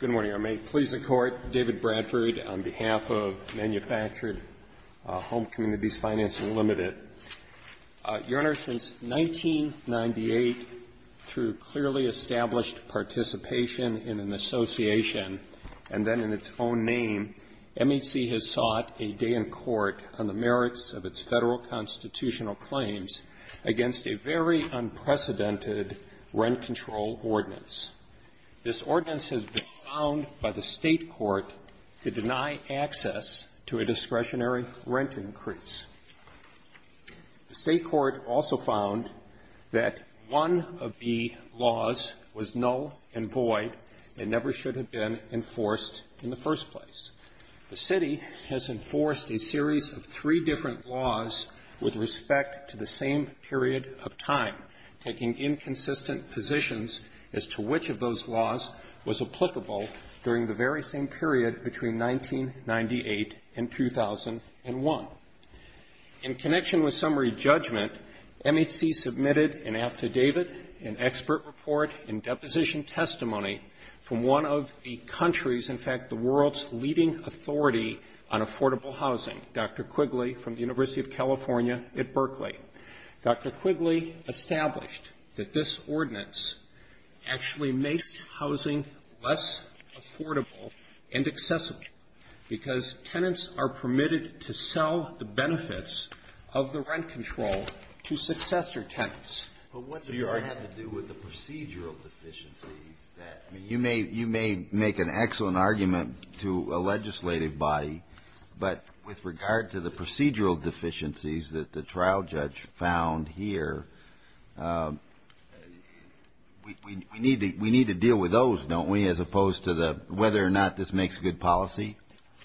Good morning. I may please the Court. David Bradford on behalf of Manufactured Home Communities Financing Limited. Your Honor, since 1998, through clearly established participation in an association, and then in its own name, MHC has sought a day in court on the merits of its federal constitutional claims against a very unprecedented rent control ordinance. This ordinance has been found by the State Court to deny access to a discretionary rent increase. The State Court also found that one of the laws was null and void and never should have been enforced in the first place. The City has enforced a series of three different laws with respect to the same period of time, taking inconsistent positions as to which of those laws was applicable during the very same period between 1998 and 2001. In connection with summary judgment, MHC submitted an affidavit, an expert report, and deposition testimony from one of the country's, in fact, the world's leading authority on affordable housing, Dr. Quigley, at the University of California at Berkeley. Dr. Quigley established that this ordinance actually makes housing less affordable and accessible because tenants are permitted to sell the benefits of the rent control to successor tenants. Kennedy. But what does that have to do with the procedural deficiencies that you may make an excellent argument to a legislative body, but with regard to the procedural deficiencies that the trial judge found here? We need to deal with those, don't we, as opposed to the whether or not this makes a good policy?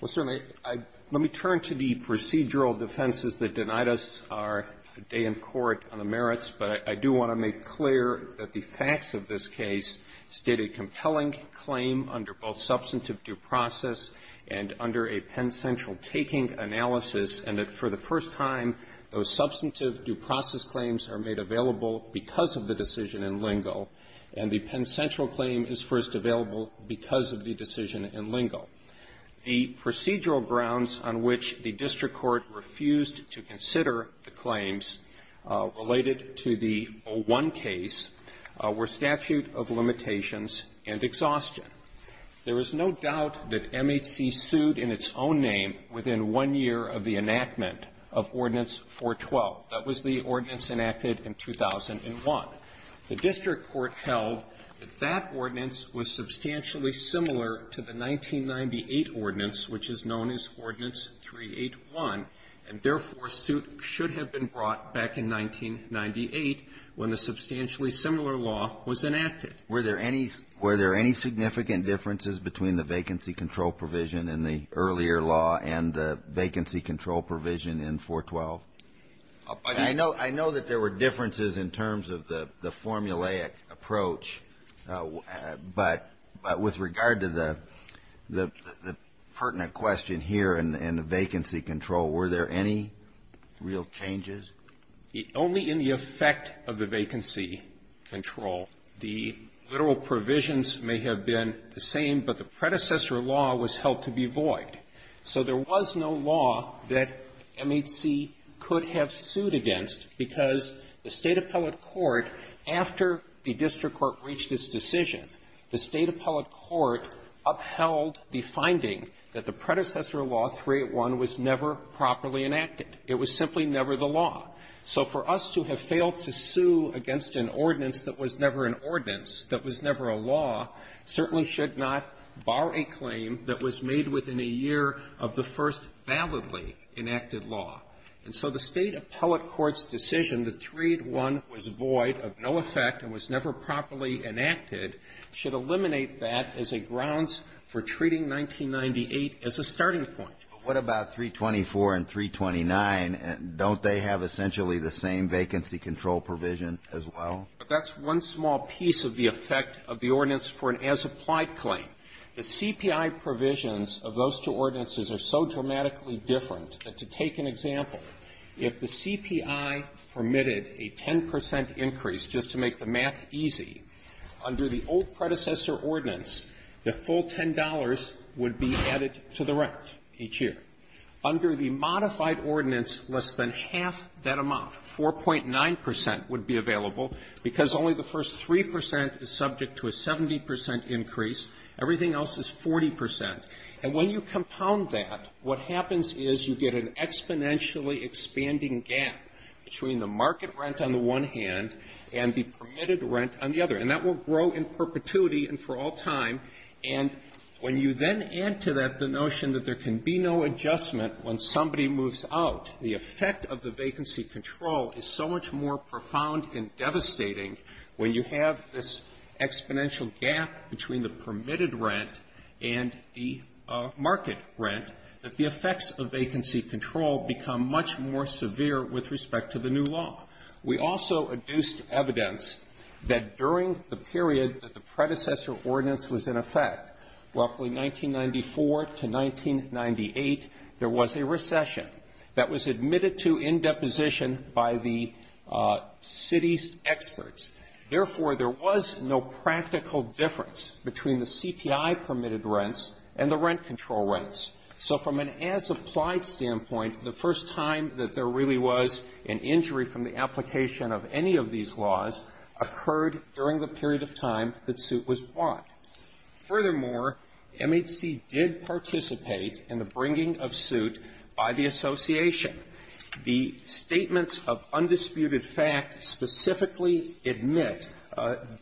Well, certainly. Let me turn to the procedural defenses that denied us our day in court on the merits, but I do want to make clear that the facts of this case state a compelling claim under both substantive due process and under a pen-sensual taking analysis At the time, those substantive due process claims are made available because of the decision in lingo, and the pen-sensual claim is first available because of the decision in lingo. The procedural grounds on which the district court refused to consider the claims related to the 01 case were statute of limitations and exhaustion. There is no doubt that MHC sued in its own name within one year of the enactment of Ordinance 412. That was the ordinance enacted in 2001. The district court held that that ordinance was substantially similar to the 1998 ordinance, which is known as Ordinance 381, and therefore, suit should have been brought back in 1998 when a substantially similar law was enacted. Were there any significant differences between the vacancy control provision in the earlier law and the vacancy control provision in 412? I know that there were differences in terms of the formulaic approach, but with regard to the pertinent question here in the vacancy control, were there any real changes? Only in the effect of the vacancy control, the literal provisions may have been the same, but the predecessor law was held to be void. So there was no law that MHC could have sued against because the State appellate court, after the district court reached its decision, the State appellate court upheld the finding that the predecessor law, 381, was never properly enacted. It was simply never the law. So for us to have failed to sue against an ordinance that was never an ordinance, that was never a law, certainly should not bar a claim that was made within a year of the first validly enacted law. And so the State appellate court's decision that 381 was void, of no effect, and was never properly enacted, should eliminate that as a grounds for treating 1998 as a starting point. But what about 324 and 329? Don't they have essentially the same vacancy control provision as well? But that's one small piece of the effect of the ordinance for an as-applied claim. The CPI provisions of those two ordinances are so dramatically different that to take an example, if the CPI permitted a 10 percent increase just to make the math easy, under the old predecessor ordinance, the full $10 would be added to the rent each year. Under the modified ordinance, less than half that amount, 4.9 percent, would be available, because only the first 3 percent is subject to a 70 percent increase. Everything else is 40 percent. And when you compound that, what happens is you get an exponentially expanding gap between the market rent on the one hand, and the permitted rent on the other. And that will grow in perpetuity and for all time. And when you then add to that the notion that there can be no adjustment when somebody moves out, the effect of the vacancy control is so much more profound and devastating when you have this exponential gap between the permitted rent and the market rent, that the effects of vacancy control become much more severe with respect to the new law. We also adduced evidence that during the period that the predecessor ordinance was in effect, roughly 1994 to 1998, there was a recession that was admitted to in deposition by the city's experts. Therefore, there was no practical difference between the CPI permitted rents and the rent control rents. So from an as-applied standpoint, the first time that there really was an injury from the application of any of these laws occurred during the period of time that suit was bought. Furthermore, MHC did participate in the bringing of suit by the association. The statements of undisputed fact specifically admit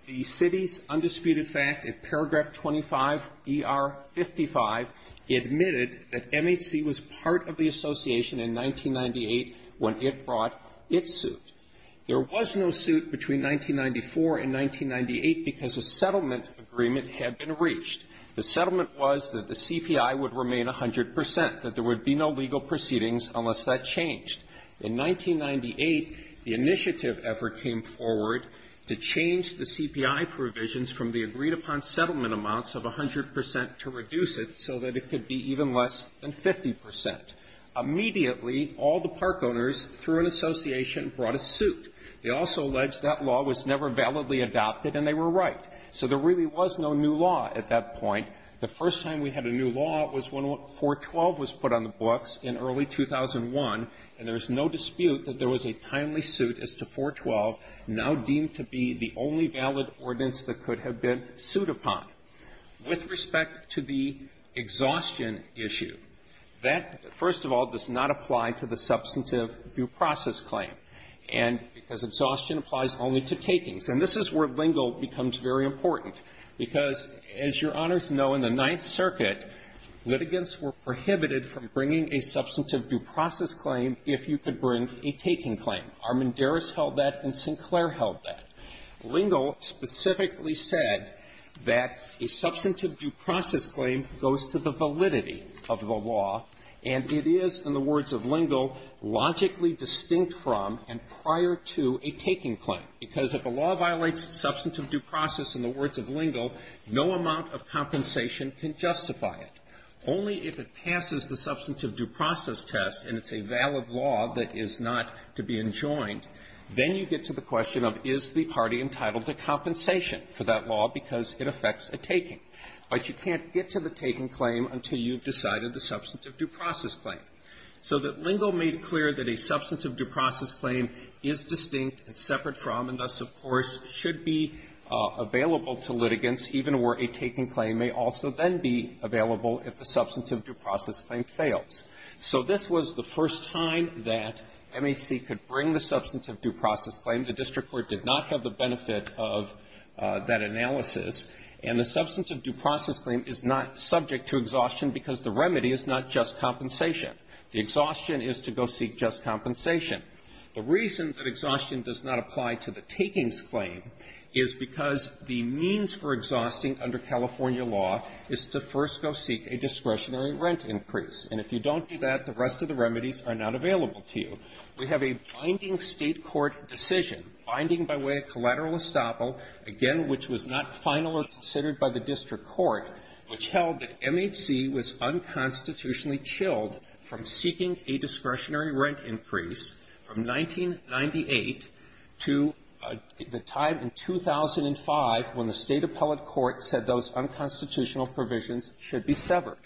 the city's undisputed fact in paragraph 25ER55, that the city's undisputed fact admitted that MHC was part of the association in 1998 when it brought its suit. There was no suit between 1994 and 1998 because a settlement agreement had been reached. The settlement was that the CPI would remain 100 percent, that there would be no legal proceedings unless that changed. In 1998, the initiative effort came forward to change the CPI provisions from the agreed-upon settlement amounts of 100 percent to reduce it so that it could be even less than 50 percent. Immediately, all the park owners through an association brought a suit. They also alleged that law was never validly adopted, and they were right. So there really was no new law at that point. The first time we had a new law was when 412 was put on the books in early 2001, and there is no dispute that there was a timely suit as to 412, now deemed to be the only valid ordinance that could have been sued upon. With respect to the original exhaustion issue, that, first of all, does not apply to the substantive due process claim, and because exhaustion applies only to takings. And this is where Lingle becomes very important, because, as Your Honors know, in the Ninth Circuit, litigants were prohibited from bringing a substantive due process claim if you could bring a taking claim. Armendariz held that, and Sinclair held that. Lingle specifically said that a substantive due process claim goes to the validity of the law, and it is, in the words of Lingle, logically distinct from and prior to a taking claim, because if a law violates substantive due process, in the words of Lingle, no amount of compensation can justify it. Only if it passes the substantive due process test, and it's a valid law that is not to be enjoined, then you get to the party entitled to compensation for that law because it affects a taking. But you can't get to the taking claim until you've decided the substantive due process claim. So that Lingle made clear that a substantive due process claim is distinct and separate from, and thus, of course, should be available to litigants, even where a taking claim may also then be available if the substantive due process claim fails. So this was the first time that MHC could bring the substantive due process claim. The district court did not have the benefit of that analysis, and the substantive due process claim is not subject to exhaustion because the remedy is not just compensation. The exhaustion is to go seek just compensation. The reason that exhaustion does not apply to the takings claim is because the means for exhausting under California law is to first go seek a discretionary rent increase. And if you don't do that, the rest of the remedies are not available to you. We have a binding state court decision, binding by way of collateral estoppel, again, which was not final or considered by the district court, which held that MHC was unconstitutionally chilled from seeking a discretionary rent increase from 1998 to the time in 2005 when the state appellate court said those unconstitutional provisions should be severed.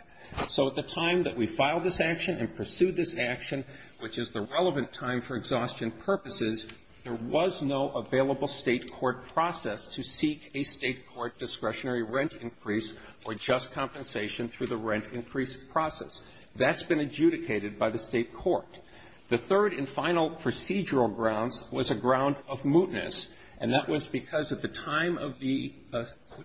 So at the time that we filed this action and pursued this action, which is the relevant time for exhaustion purposes, there was no available state court process to seek a state court discretionary rent increase or just compensation through the rent increase process. That's been adjudicated by the state court. The third and final procedural grounds was a ground of mootness, and that was because at the time of the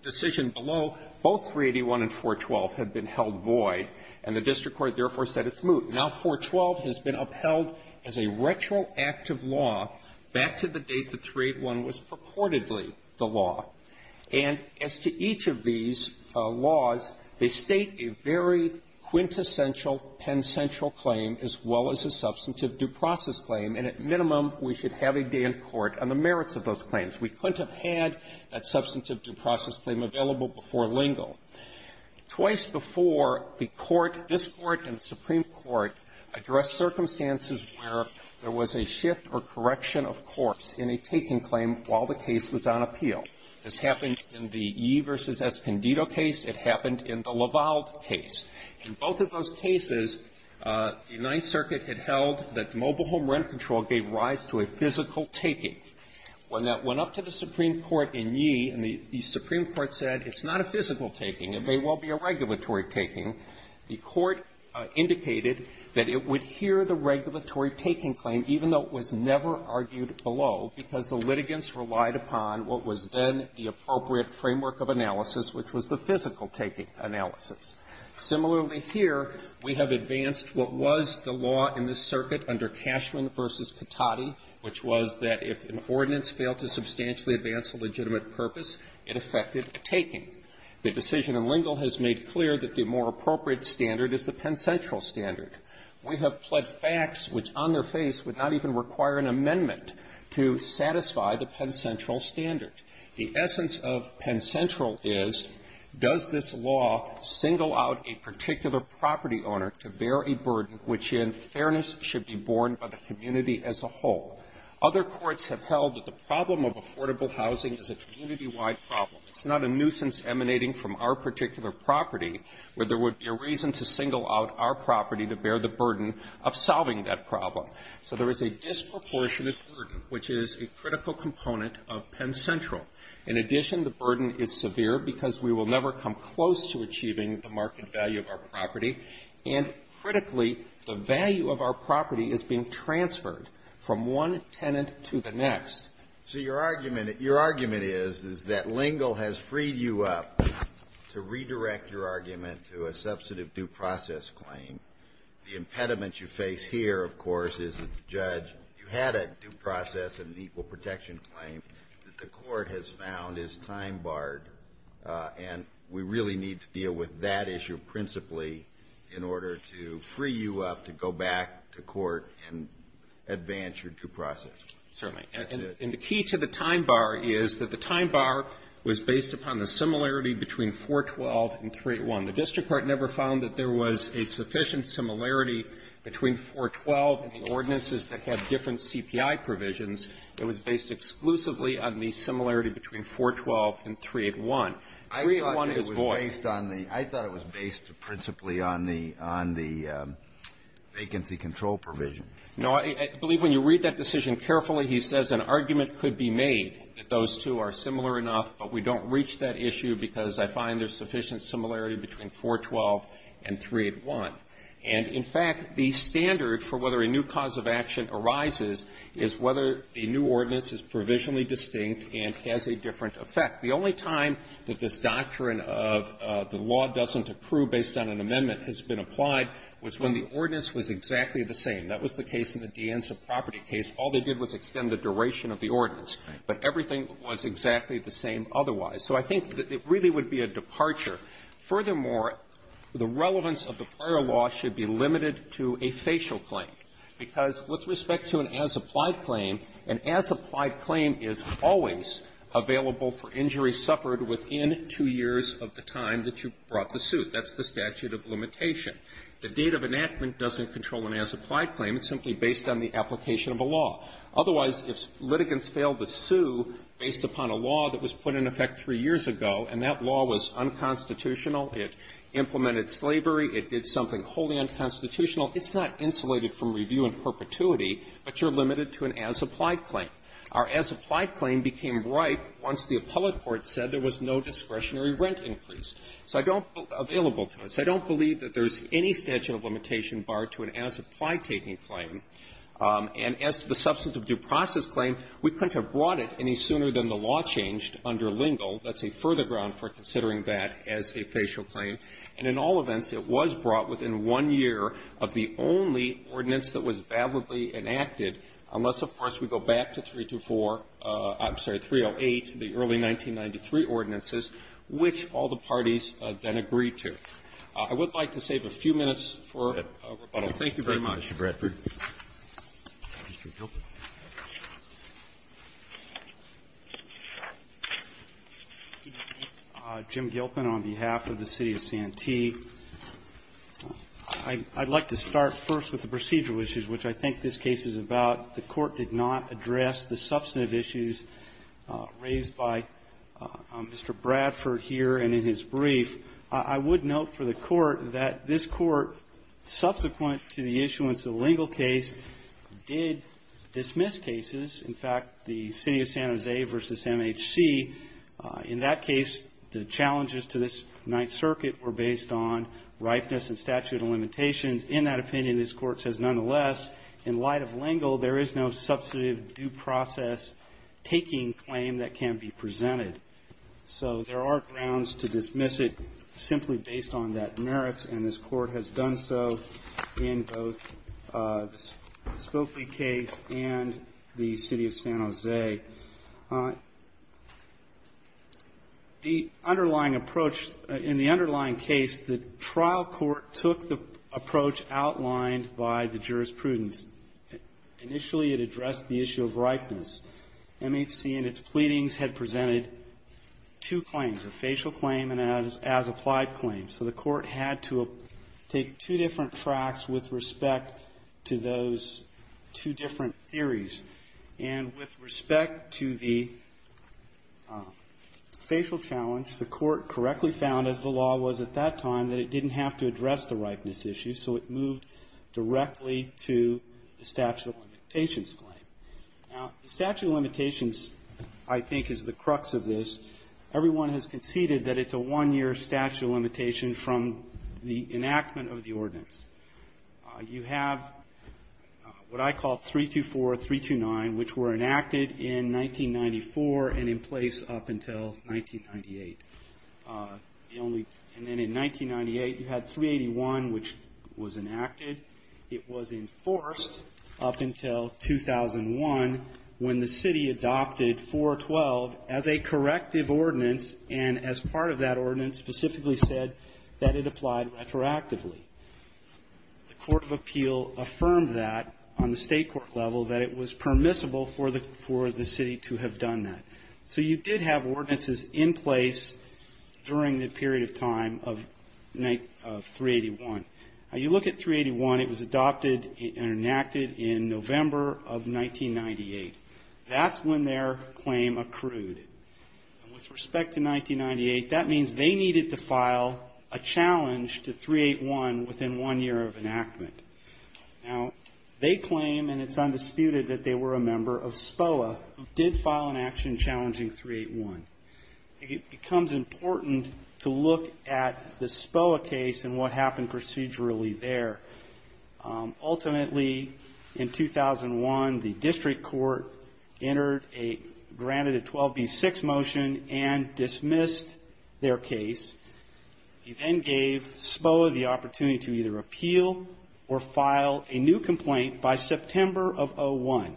decision below, both 381 and 412 had been held void, and the district court therefore said it's moot. Now, 412 has been upheld as a retroactive law back to the date that 381 was purportedly the law. And as to each of these laws, they state a very quintessential, pensential claim as well as a substantive due process claim, and at minimum, we should have a day in court on the merits of those claims. We couldn't have had that substantive due process claim available before Lingle. Twice before, the Court of this Court and the Supreme Court addressed circumstances where there was a shift or correction of course in a taking claim while the case was on appeal. This happened in the Yee v. Escondido case. It happened in the Laval case. In both of those cases, the Ninth Circuit had held that mobile home rent control gave rise to a physical taking. When that went up to the Supreme Court in Yee, and the Supreme Court said it's not a physical taking, it may well be a regulatory taking, the Court indicated that it would hear the regulatory taking claim, even though it was never argued below, because the litigants relied upon what was then the appropriate framework of analysis, which was the physical taking analysis. Similarly, here, we have advanced what was the law in this circuit under Cashman v. Petotti, which was that if an ordinance failed to substantially advance a legitimate purpose, it affected taking. The decision in Lingle has made clear that the more appropriate standard is the Penn Central standard. We have pled facts which on their face would not even require an amendment to satisfy the Penn Central standard. The essence of Penn Central is, does this law single out a particular property owner to bear a burden which, in fairness, should be borne by the community as a whole? Other courts have held that the problem of affordable housing is a community-wide problem. It's not a nuisance emanating from our particular property where there would be a reason to single out our property to bear the burden of solving that problem. So there is a disproportionate burden, which is a critical component of Penn Central. In addition, the burden is severe because we will never come close to achieving the market value of our property, and critically, the value of our property is being transferred from one tenant to the next. So your argument is that Lingle has freed you up to redirect your argument to a substantive due process claim. The impediment you face here, of course, is that you had a due process and an equal protection claim that the court has found is time-barred, and we really need to deal with that issue principally in order to free you up to go back to court and advance your due process. Certainly. And the key to the time bar is that the time bar was based upon the similarity between 412 and 381. The district court never found that there was a sufficient similarity between 412 and the ordinances that have different CPI provisions. It was based exclusively on the similarity between 412 and 381. I thought it was based on the vacancy control provision. No. I believe when you read that decision carefully, he says an argument could be made that those two are similar enough, but we don't reach that issue because I find there's sufficient similarity between 412 and 381. And, in fact, the standard for whether a new cause of action arises is whether the new ordinance is provisionally distinct and has a different effect. The only time that this doctrine of the law doesn't approve based on an amendment has been applied was when the ordinance was exactly the same. That was the case in the De Anza property case. All they did was extend the duration of the ordinance, but everything was exactly the same otherwise. So I think that it really would be a departure. Furthermore, the relevance of the prior law should be limited to a facial claim, because with respect to an as-applied claim, an as-applied claim is always available for injuries suffered within two years of the time that you brought the suit. That's the statute of limitation. The date of enactment doesn't control an as-applied claim. It's simply based on the application of a law. Otherwise, if litigants fail to sue based upon a law that was put in effect three years ago, and that law was unconstitutional, it implemented slavery, it did something wholly unconstitutional, it's not insulated from review in perpetuity, but you're limited to an as-applied claim. Our as-applied claim became ripe once the appellate court said there was no discretionary rent increase. So I don't believe that there's any statute of limitation barred to an as-applied taking claim. And as to the substance of due process claim, we couldn't have brought it any sooner than the law changed under Lingle. That's a further ground for considering that as a facial claim. And in all events, it was brought within one year of the only ordinance that was validly enacted, unless, of course, we go back to 324 — I'm sorry, 308, the early 1993 ordinances, which all the parties then agreed to. I would like to save a few minutes for rebuttal. Thank you very much. Mr. Bradford. Mr. Gilpin. Jim Gilpin on behalf of the city of Santee. I'd like to start first with the procedural issues, which I think this case is about. The Court did not address the substantive issues raised by Mr. Bradford here and in his brief. I would note for the Court that this Court, subsequent to the issuance of the Lingle case, did dismiss cases. In fact, the city of San Jose versus MHC, in that case, the challenges to this Ninth Circuit were based on ripeness and statute of limitations. In that opinion, this Court says, nonetheless, in light of Lingle, there is no substantive due process taking claim that can be presented. So there are grounds to dismiss it simply based on that merits, and this Court has done so in both the Spokley case and the city of San Jose. The underlying approach in the underlying case, the trial court took the approach outlined by the jurisprudence. Initially, it addressed the issue of ripeness. MHC, in its pleadings, had presented two claims, a facial claim and an as-applied claim. So the Court had to take two different tracks with respect to those two different theories. And with respect to the facial challenge, the Court correctly found, as the law was at that time, that it didn't have to address the ripeness issue, so it moved directly to the statute of limitations claim. Now, the statute of limitations, I think, is the crux of this. Everyone has conceded that it's a one-year statute of limitation from the enactment of the 1998. And then in 1998, you had 381, which was enacted. It was enforced up until 2001, when the city adopted 412 as a corrective ordinance, and as part of that ordinance specifically said that it applied retroactively. The court of appeal affirmed that on the state court level that it was permissible for the city to have done that. So you did have ordinances in place during the period of time of 381. Now, you look at 381. It was adopted and enacted in November of 1998. That's when their claim accrued. With respect to 1998, that means they needed to file a challenge to 381 within one year of enactment. Now, they claim, and it's undisputed, that they were a member of SPOA who did file an action challenging 381. It becomes important to look at the SPOA case and what happened procedurally there. Ultimately, in 2001, the district court entered a granted a 12B6 motion and dismissed their case. It then gave SPOA the opportunity to either appeal or file a new complaint by September of 2001.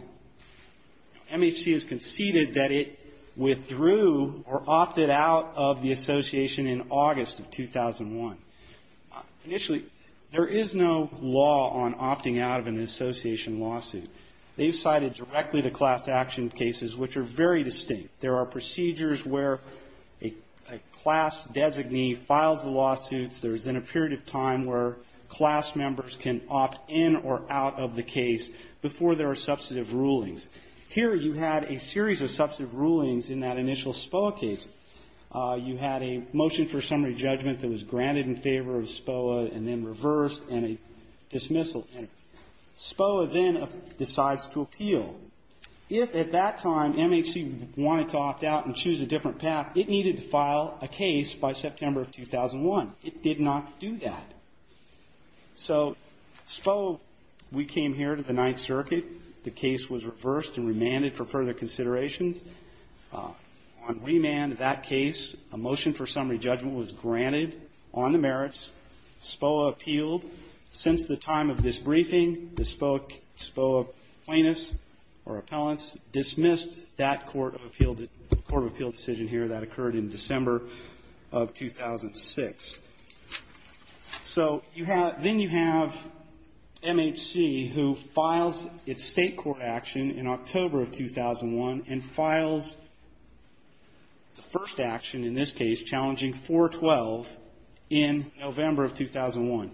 MHC has conceded that it withdrew or opted out of the association in August of 2001. Initially, there is no law on opting out of an association lawsuit. They've cited directly the class action cases, which are very distinct. There are procedures where a class designee files the lawsuits. There is then a period of time where class members can opt in or out of the case before there are substantive rulings. Here, you had a series of substantive rulings in that initial SPOA case. You had a motion for summary judgment that was granted in favor of SPOA and then reversed and a dismissal. SPOA then decides to appeal. If at that time MHC wanted to opt out and choose a different path, it needed to file a case by September of 2001. It did not do that. So SPOA, we came here to the Ninth Circuit. The case was reversed and remanded for further considerations. On remand of that case, a motion for summary judgment was granted. The briefing, the SPOA plaintiffs or appellants dismissed that court of appeal decision here that occurred in December of 2006. So then you have MHC, who files its state court action in October of 2001 and files the first action, in this case, challenging 412, in November of 2001.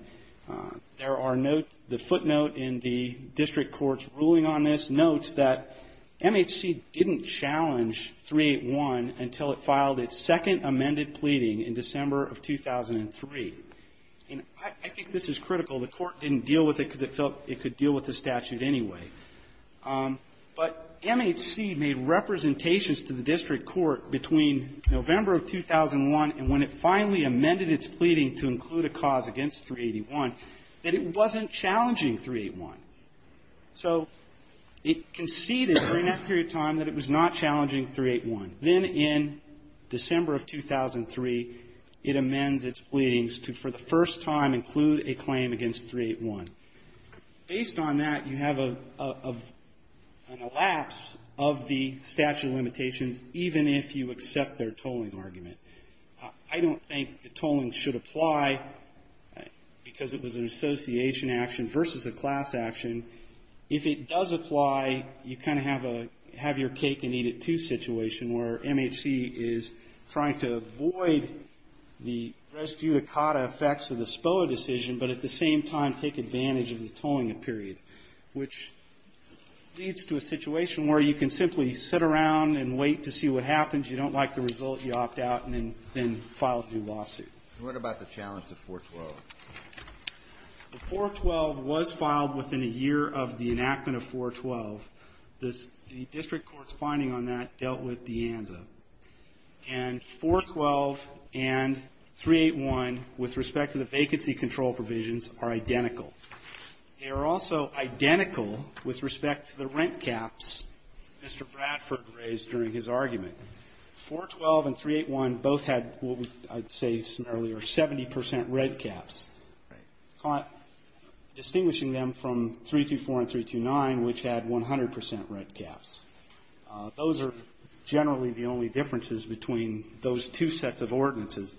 There are no, the footnotes are not there. There are no footnotes. The footnote in the district court's ruling on this notes that MHC didn't challenge 381 until it filed its second amended pleading in December of 2003. And I think this is critical. The court didn't deal with it because it felt it could deal with the statute anyway. But MHC made representations to the district court between November of 2001 and when it finally amended its pleading to include a cause against 381, that it wasn't challenging 381. So it conceded during that period of time that it was not challenging 381. Then in December of 2003, it amends its pleadings to, for the first time, include a claim against 381. Based on that, you have an elapse of the statute of limitations, even if you accept their tolling argument. I don't think the tolling should apply because it was an association action versus a class action. If it does apply, you kind of have a have-your-cake-and-eat-it-too situation where MHC is trying to avoid the res judicata effects of the SPOA decision, but at the same time take advantage of the tolling period, which leads to a situation where you can simply sit around and wait to see what happens. You don't like the result. You opt out and then file a lawsuit. And what about the challenge to 412? The 412 was filed within a year of the enactment of 412. The district court's finding on that dealt with De Anza. And 412 and 381, with respect to the vacancy control provisions, are identical. They are also identical with respect to the rent caps Mr. Bradford raised during his argument. 412 and 381 both had, I'd say some earlier, 70 percent red caps, distinguishing them from 324 and 329, which had 100 percent red caps. Those are generally the only differences between those two sets of ordinances.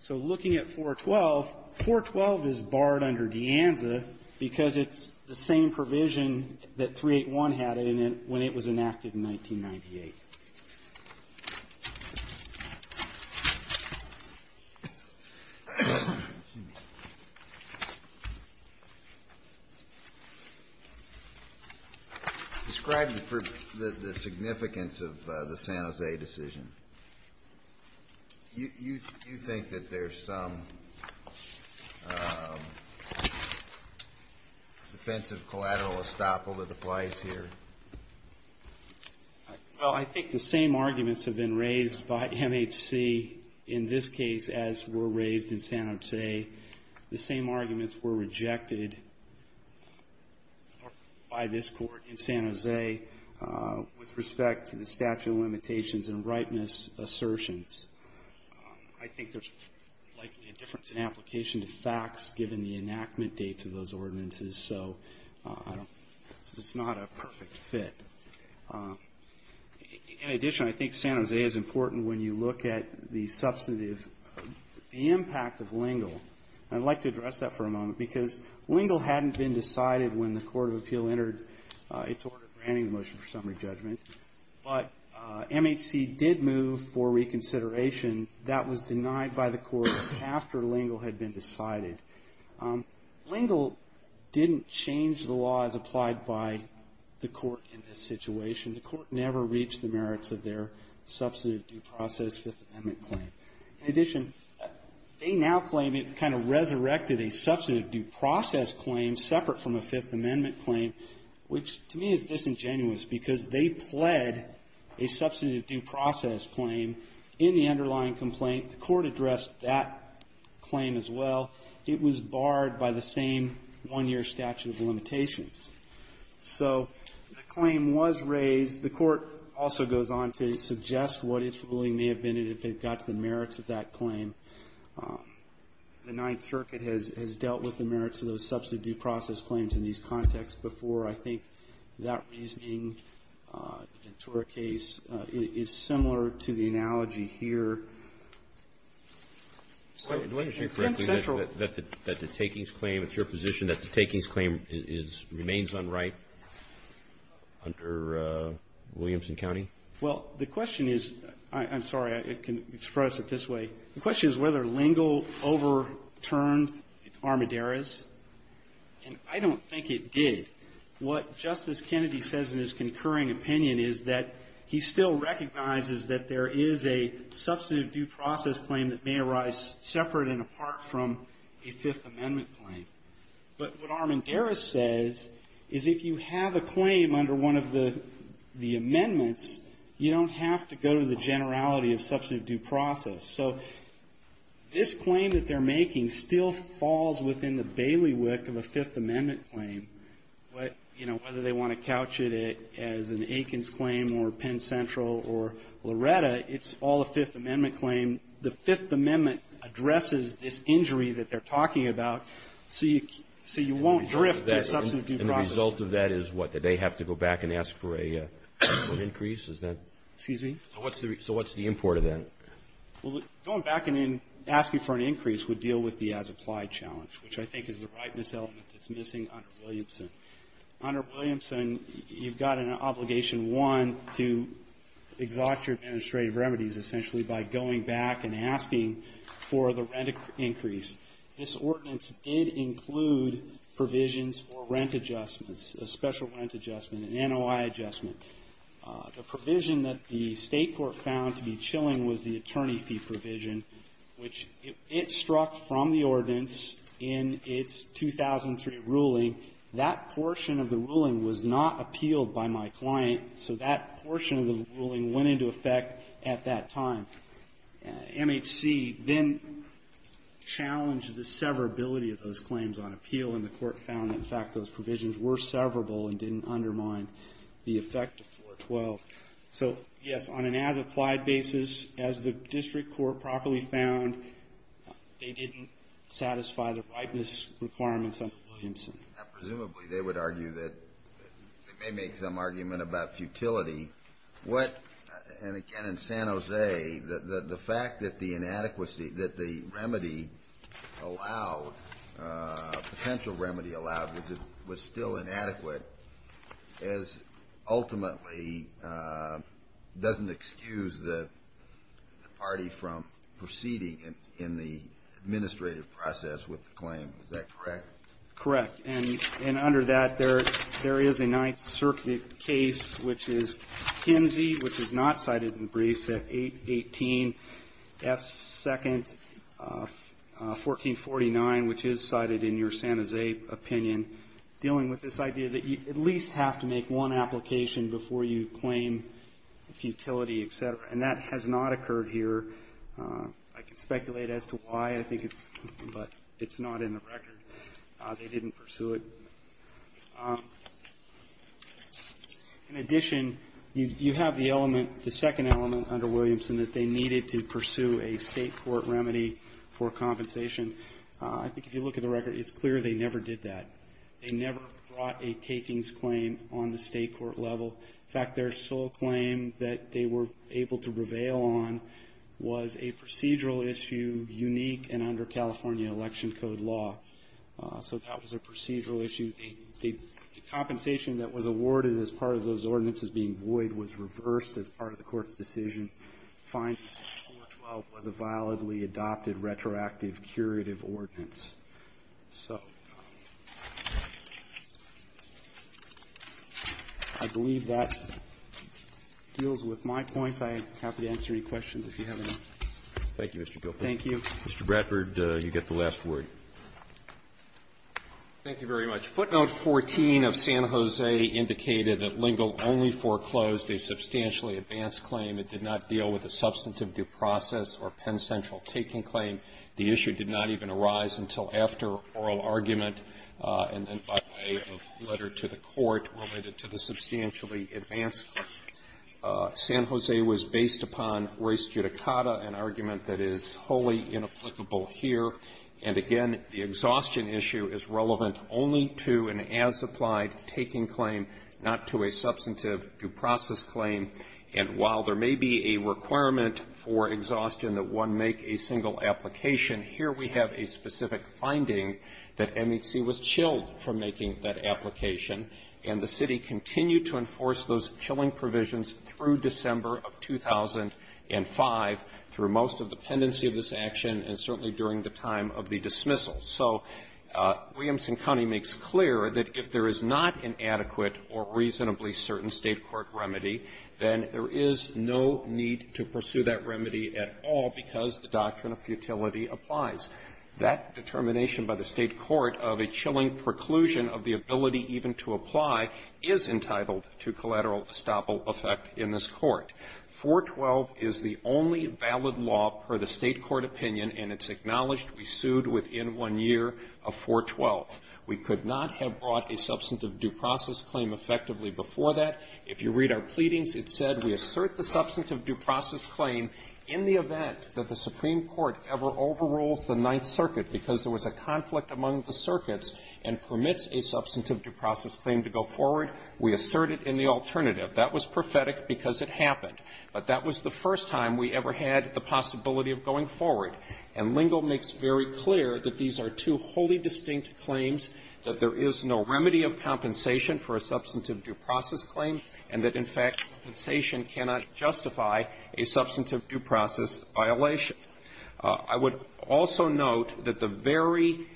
So looking at 412, 412 is barred under De Anza, because it's the same provision that 381 had in it when it was enacted in 1998. Describe the significance of the San Jose decision. You think that there's some... defensive collateral estoppel that applies here? Well, I think the same arguments have been raised by MHC in this case as were raised in San Jose. The same arguments were rejected by this court in San Jose with respect to the statute of limitations and ripeness assertions. I think there's likely a difference in application to facts given the enactment dates of those ordinances, so it's not a perfect fit. In addition, I think San Jose is important when you look at the substantive... the impact of Lingle. And I'd like to address that for a moment, because Lingle hadn't been decided when the Court of Appeal entered its order granting the motion for summary judgment. But MHC did move for reconsideration. That was denied by the Court after Lingle had been decided. Lingle didn't change the law as applied by the Court in this situation. The Court never reached the merits of their substantive due process Fifth Amendment claim. In addition, they now claim it kind of resurrected a substantive due process claim separate from a Fifth Amendment claim, which to me is disingenuous, because they pled a substantive due process claim in the end of the Fifth Amendment. In the underlying complaint, the Court addressed that claim as well. It was barred by the same one-year statute of limitations. So the claim was raised. The Court also goes on to suggest what its ruling may have been, and if it got to the merits of that claim. The Ninth Circuit has dealt with the merits of those substantive due process claims in these contexts before. I think that reasoning, the Ventura case, is similar to the analogy here. So in central that the takings claim, it's your position that the takings claim is remains on right under Williamson County? Well, the question is, I'm sorry, I can express it this way. The question is whether Lingle overturned armaduras, and I don't think it did. What Justice Kennedy says in his concurring opinion is that he still recognizes that there is a substantive due process claim that may arise separate and apart from a Fifth Amendment claim. But what armaduras says is if you have a claim under one of the amendments, you don't have to go to the generality of substantive due process. So this claim that they're making still falls within the bailiwick of a Fifth Amendment claim, whether they want to couch it as an Akins claim or Penn Central or Loretta, it's all a Fifth Amendment claim. The Fifth Amendment addresses this injury that they're talking about, so you won't drift to a substantive due process. And the result of that is what, that they have to go back and ask for an increase? Excuse me? So what's the import of that? Going back and asking for an increase would deal with the as-applied challenge, which I think is the rightness element that's missing under Williamson. And so you would go on to exhaust your administrative remedies, essentially, by going back and asking for the rent increase. This ordinance did include provisions for rent adjustments, a special rent adjustment, an NOI adjustment. The provision that the State court found to be chilling was the attorney fee provision, which it struck from the ordinance in its 2003 ruling. That portion of the ruling was not appealed by my client, so that portion of the ruling went into effect at that time. MHC then challenged the severability of those claims on appeal, and the court found, in fact, those provisions were severable and didn't undermine the effect of 412. So, yes, on an as-applied basis, as the district court properly found, they didn't satisfy the rightness requirements under Williamson. Presumably, they would argue that they may make some argument about futility. What, and again in San Jose, the fact that the inadequacy, that the remedy allowed, potential remedy allowed, was still inadequate, as ultimately doesn't excuse the party from proceeding in the administrative process with the claim. Is that correct? Correct. And under that, there is a Ninth Circuit case, which is Kinsey, which is not cited in the briefs, at 818 F. 2nd, 1449, which is cited in your San Jose opinion, dealing with this idea that you at least have to make one application before you claim futility, etc. And that has not occurred here. I can speculate as to why, but it's not in the record. They didn't pursue it. In addition, you have the element, the second element under Williamson, that they needed to pursue a state court remedy for compensation. I think if you look at the record, it's clear they never did that. They never brought a takings claim on the state court level. In fact, their sole claim that they were able to prevail on was a procedural issue unique and under California Election Code law. So that was a procedural issue. The compensation that was awarded as part of those ordinances being void was reversed as part of the court's decision, finding that 412 was a validly adopted, retroactive, curative ordinance. So I believe that deals with my points. I'm happy to answer any questions if you have any. Thank you, Mr. Copeland. Thank you. Mr. Bradford, you get the last word. Thank you very much. Footnote 14 of San Jose indicated that Lingle only foreclosed a substantially advanced claim. It did not deal with a substantive due process or Penn Central taking claim. The issue did not even arise until after oral argument and then by way of letter to the court related to the substantially advanced claim. San Jose was based upon res judicata, an argument that is wholly inapplicable here. And again, the exhaustion issue is relevant only to an as-applied taking claim, not to a substantive due process claim. And while there may be a requirement for exhaustion that one make a single application, here we have a specific finding that MHC was chilled from making that application. And the city continued to enforce those chilling provisions through December of 2005 through most of the pendency of this action and certainly during the time of the dismissal. So Williamson County makes clear that if there is not an adequate or reasonably certain State court remedy, then there is no need to pursue that remedy at all because the doctrine of futility applies. That determination by the State court of a chilling preclusion of the ability even to apply is entitled to collateral estoppel effect in this Court. 412 is the only valid law per the State court opinion, and it's acknowledged we sued within one year of 412. We could not have brought a substantive due process claim effectively before that. If you read our pleadings, it said we assert the substantive due process claim in the event that the Supreme Court ever overrules the Ninth Circuit because there was a conflict among the circuits and permits a substantive due process claim to go forward, we assert it in the alternative. That was prophetic because it happened. But that was the first time we ever had the possibility of going forward. And Lingle makes very clear that these are two wholly distinct claims, that there is no remedy of compensation for a substantive due process claim, and that, in fact, compensation cannot justify a substantive due process violation. I would also note that the very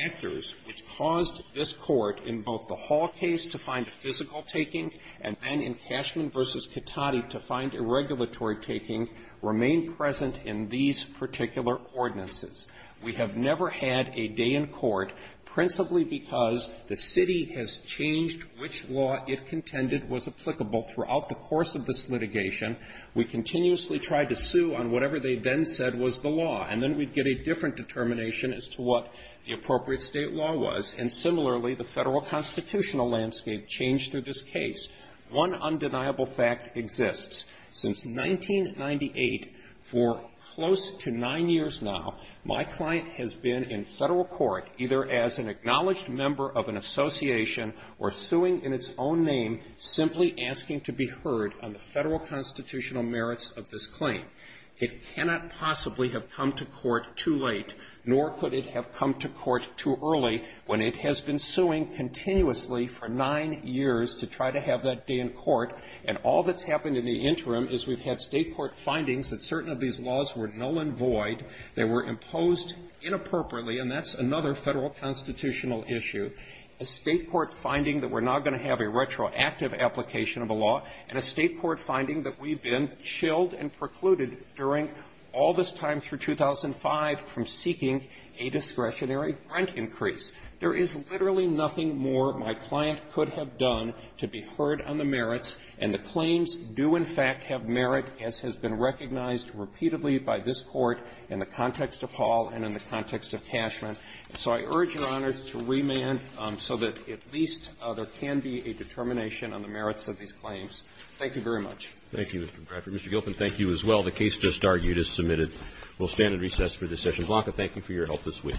factors which caused this Court in both the Hall case to find a physical taking and then in Cashman v. Cattati to find a regulatory taking remain present in these particular ordinances. We have never had a day in court, principally because the city has changed which law, if contended, was applicable throughout the course of this litigation. We continuously tried to sue on whatever they then said was the law, and then we'd get a different determination as to what the appropriate State law was. And similarly, the Federal constitutional landscape changed through this case. One undeniable fact exists. Since 1998, for close to nine years now, my client has been in Federal court, either as an acknowledged member of an association or suing in its own name, simply asking to be heard on the Federal constitutional merits of this claim. It cannot possibly have come to court too late, nor could it have come to court too early, when it has been suing continuously for nine years to try to have that day in court. And all that's happened in the interim is we've had State court findings that certain of these laws were null and void, they were imposed inappropriately, and that's another Federal constitutional issue. A State court finding that we're now going to have a retroactive application of a law, and a State court finding that we've been chilled and precluded during all this time through 2005 from seeking a discretionary rent increase. There is literally nothing more my client could have done to be heard on the merits, and the claims do in fact have merit, as has been recognized repeatedly by this Court in the context of Hall and in the context of Cashman. So I urge Your Honors to remand so that at least there can be a determination on the merits of these claims. Thank you very much. Roberts. Thank you, Mr. Bradford. Mr. Gilpin, thank you as well. The case just argued as submitted will stand at recess for this session. Blanca, thank you for your help this week.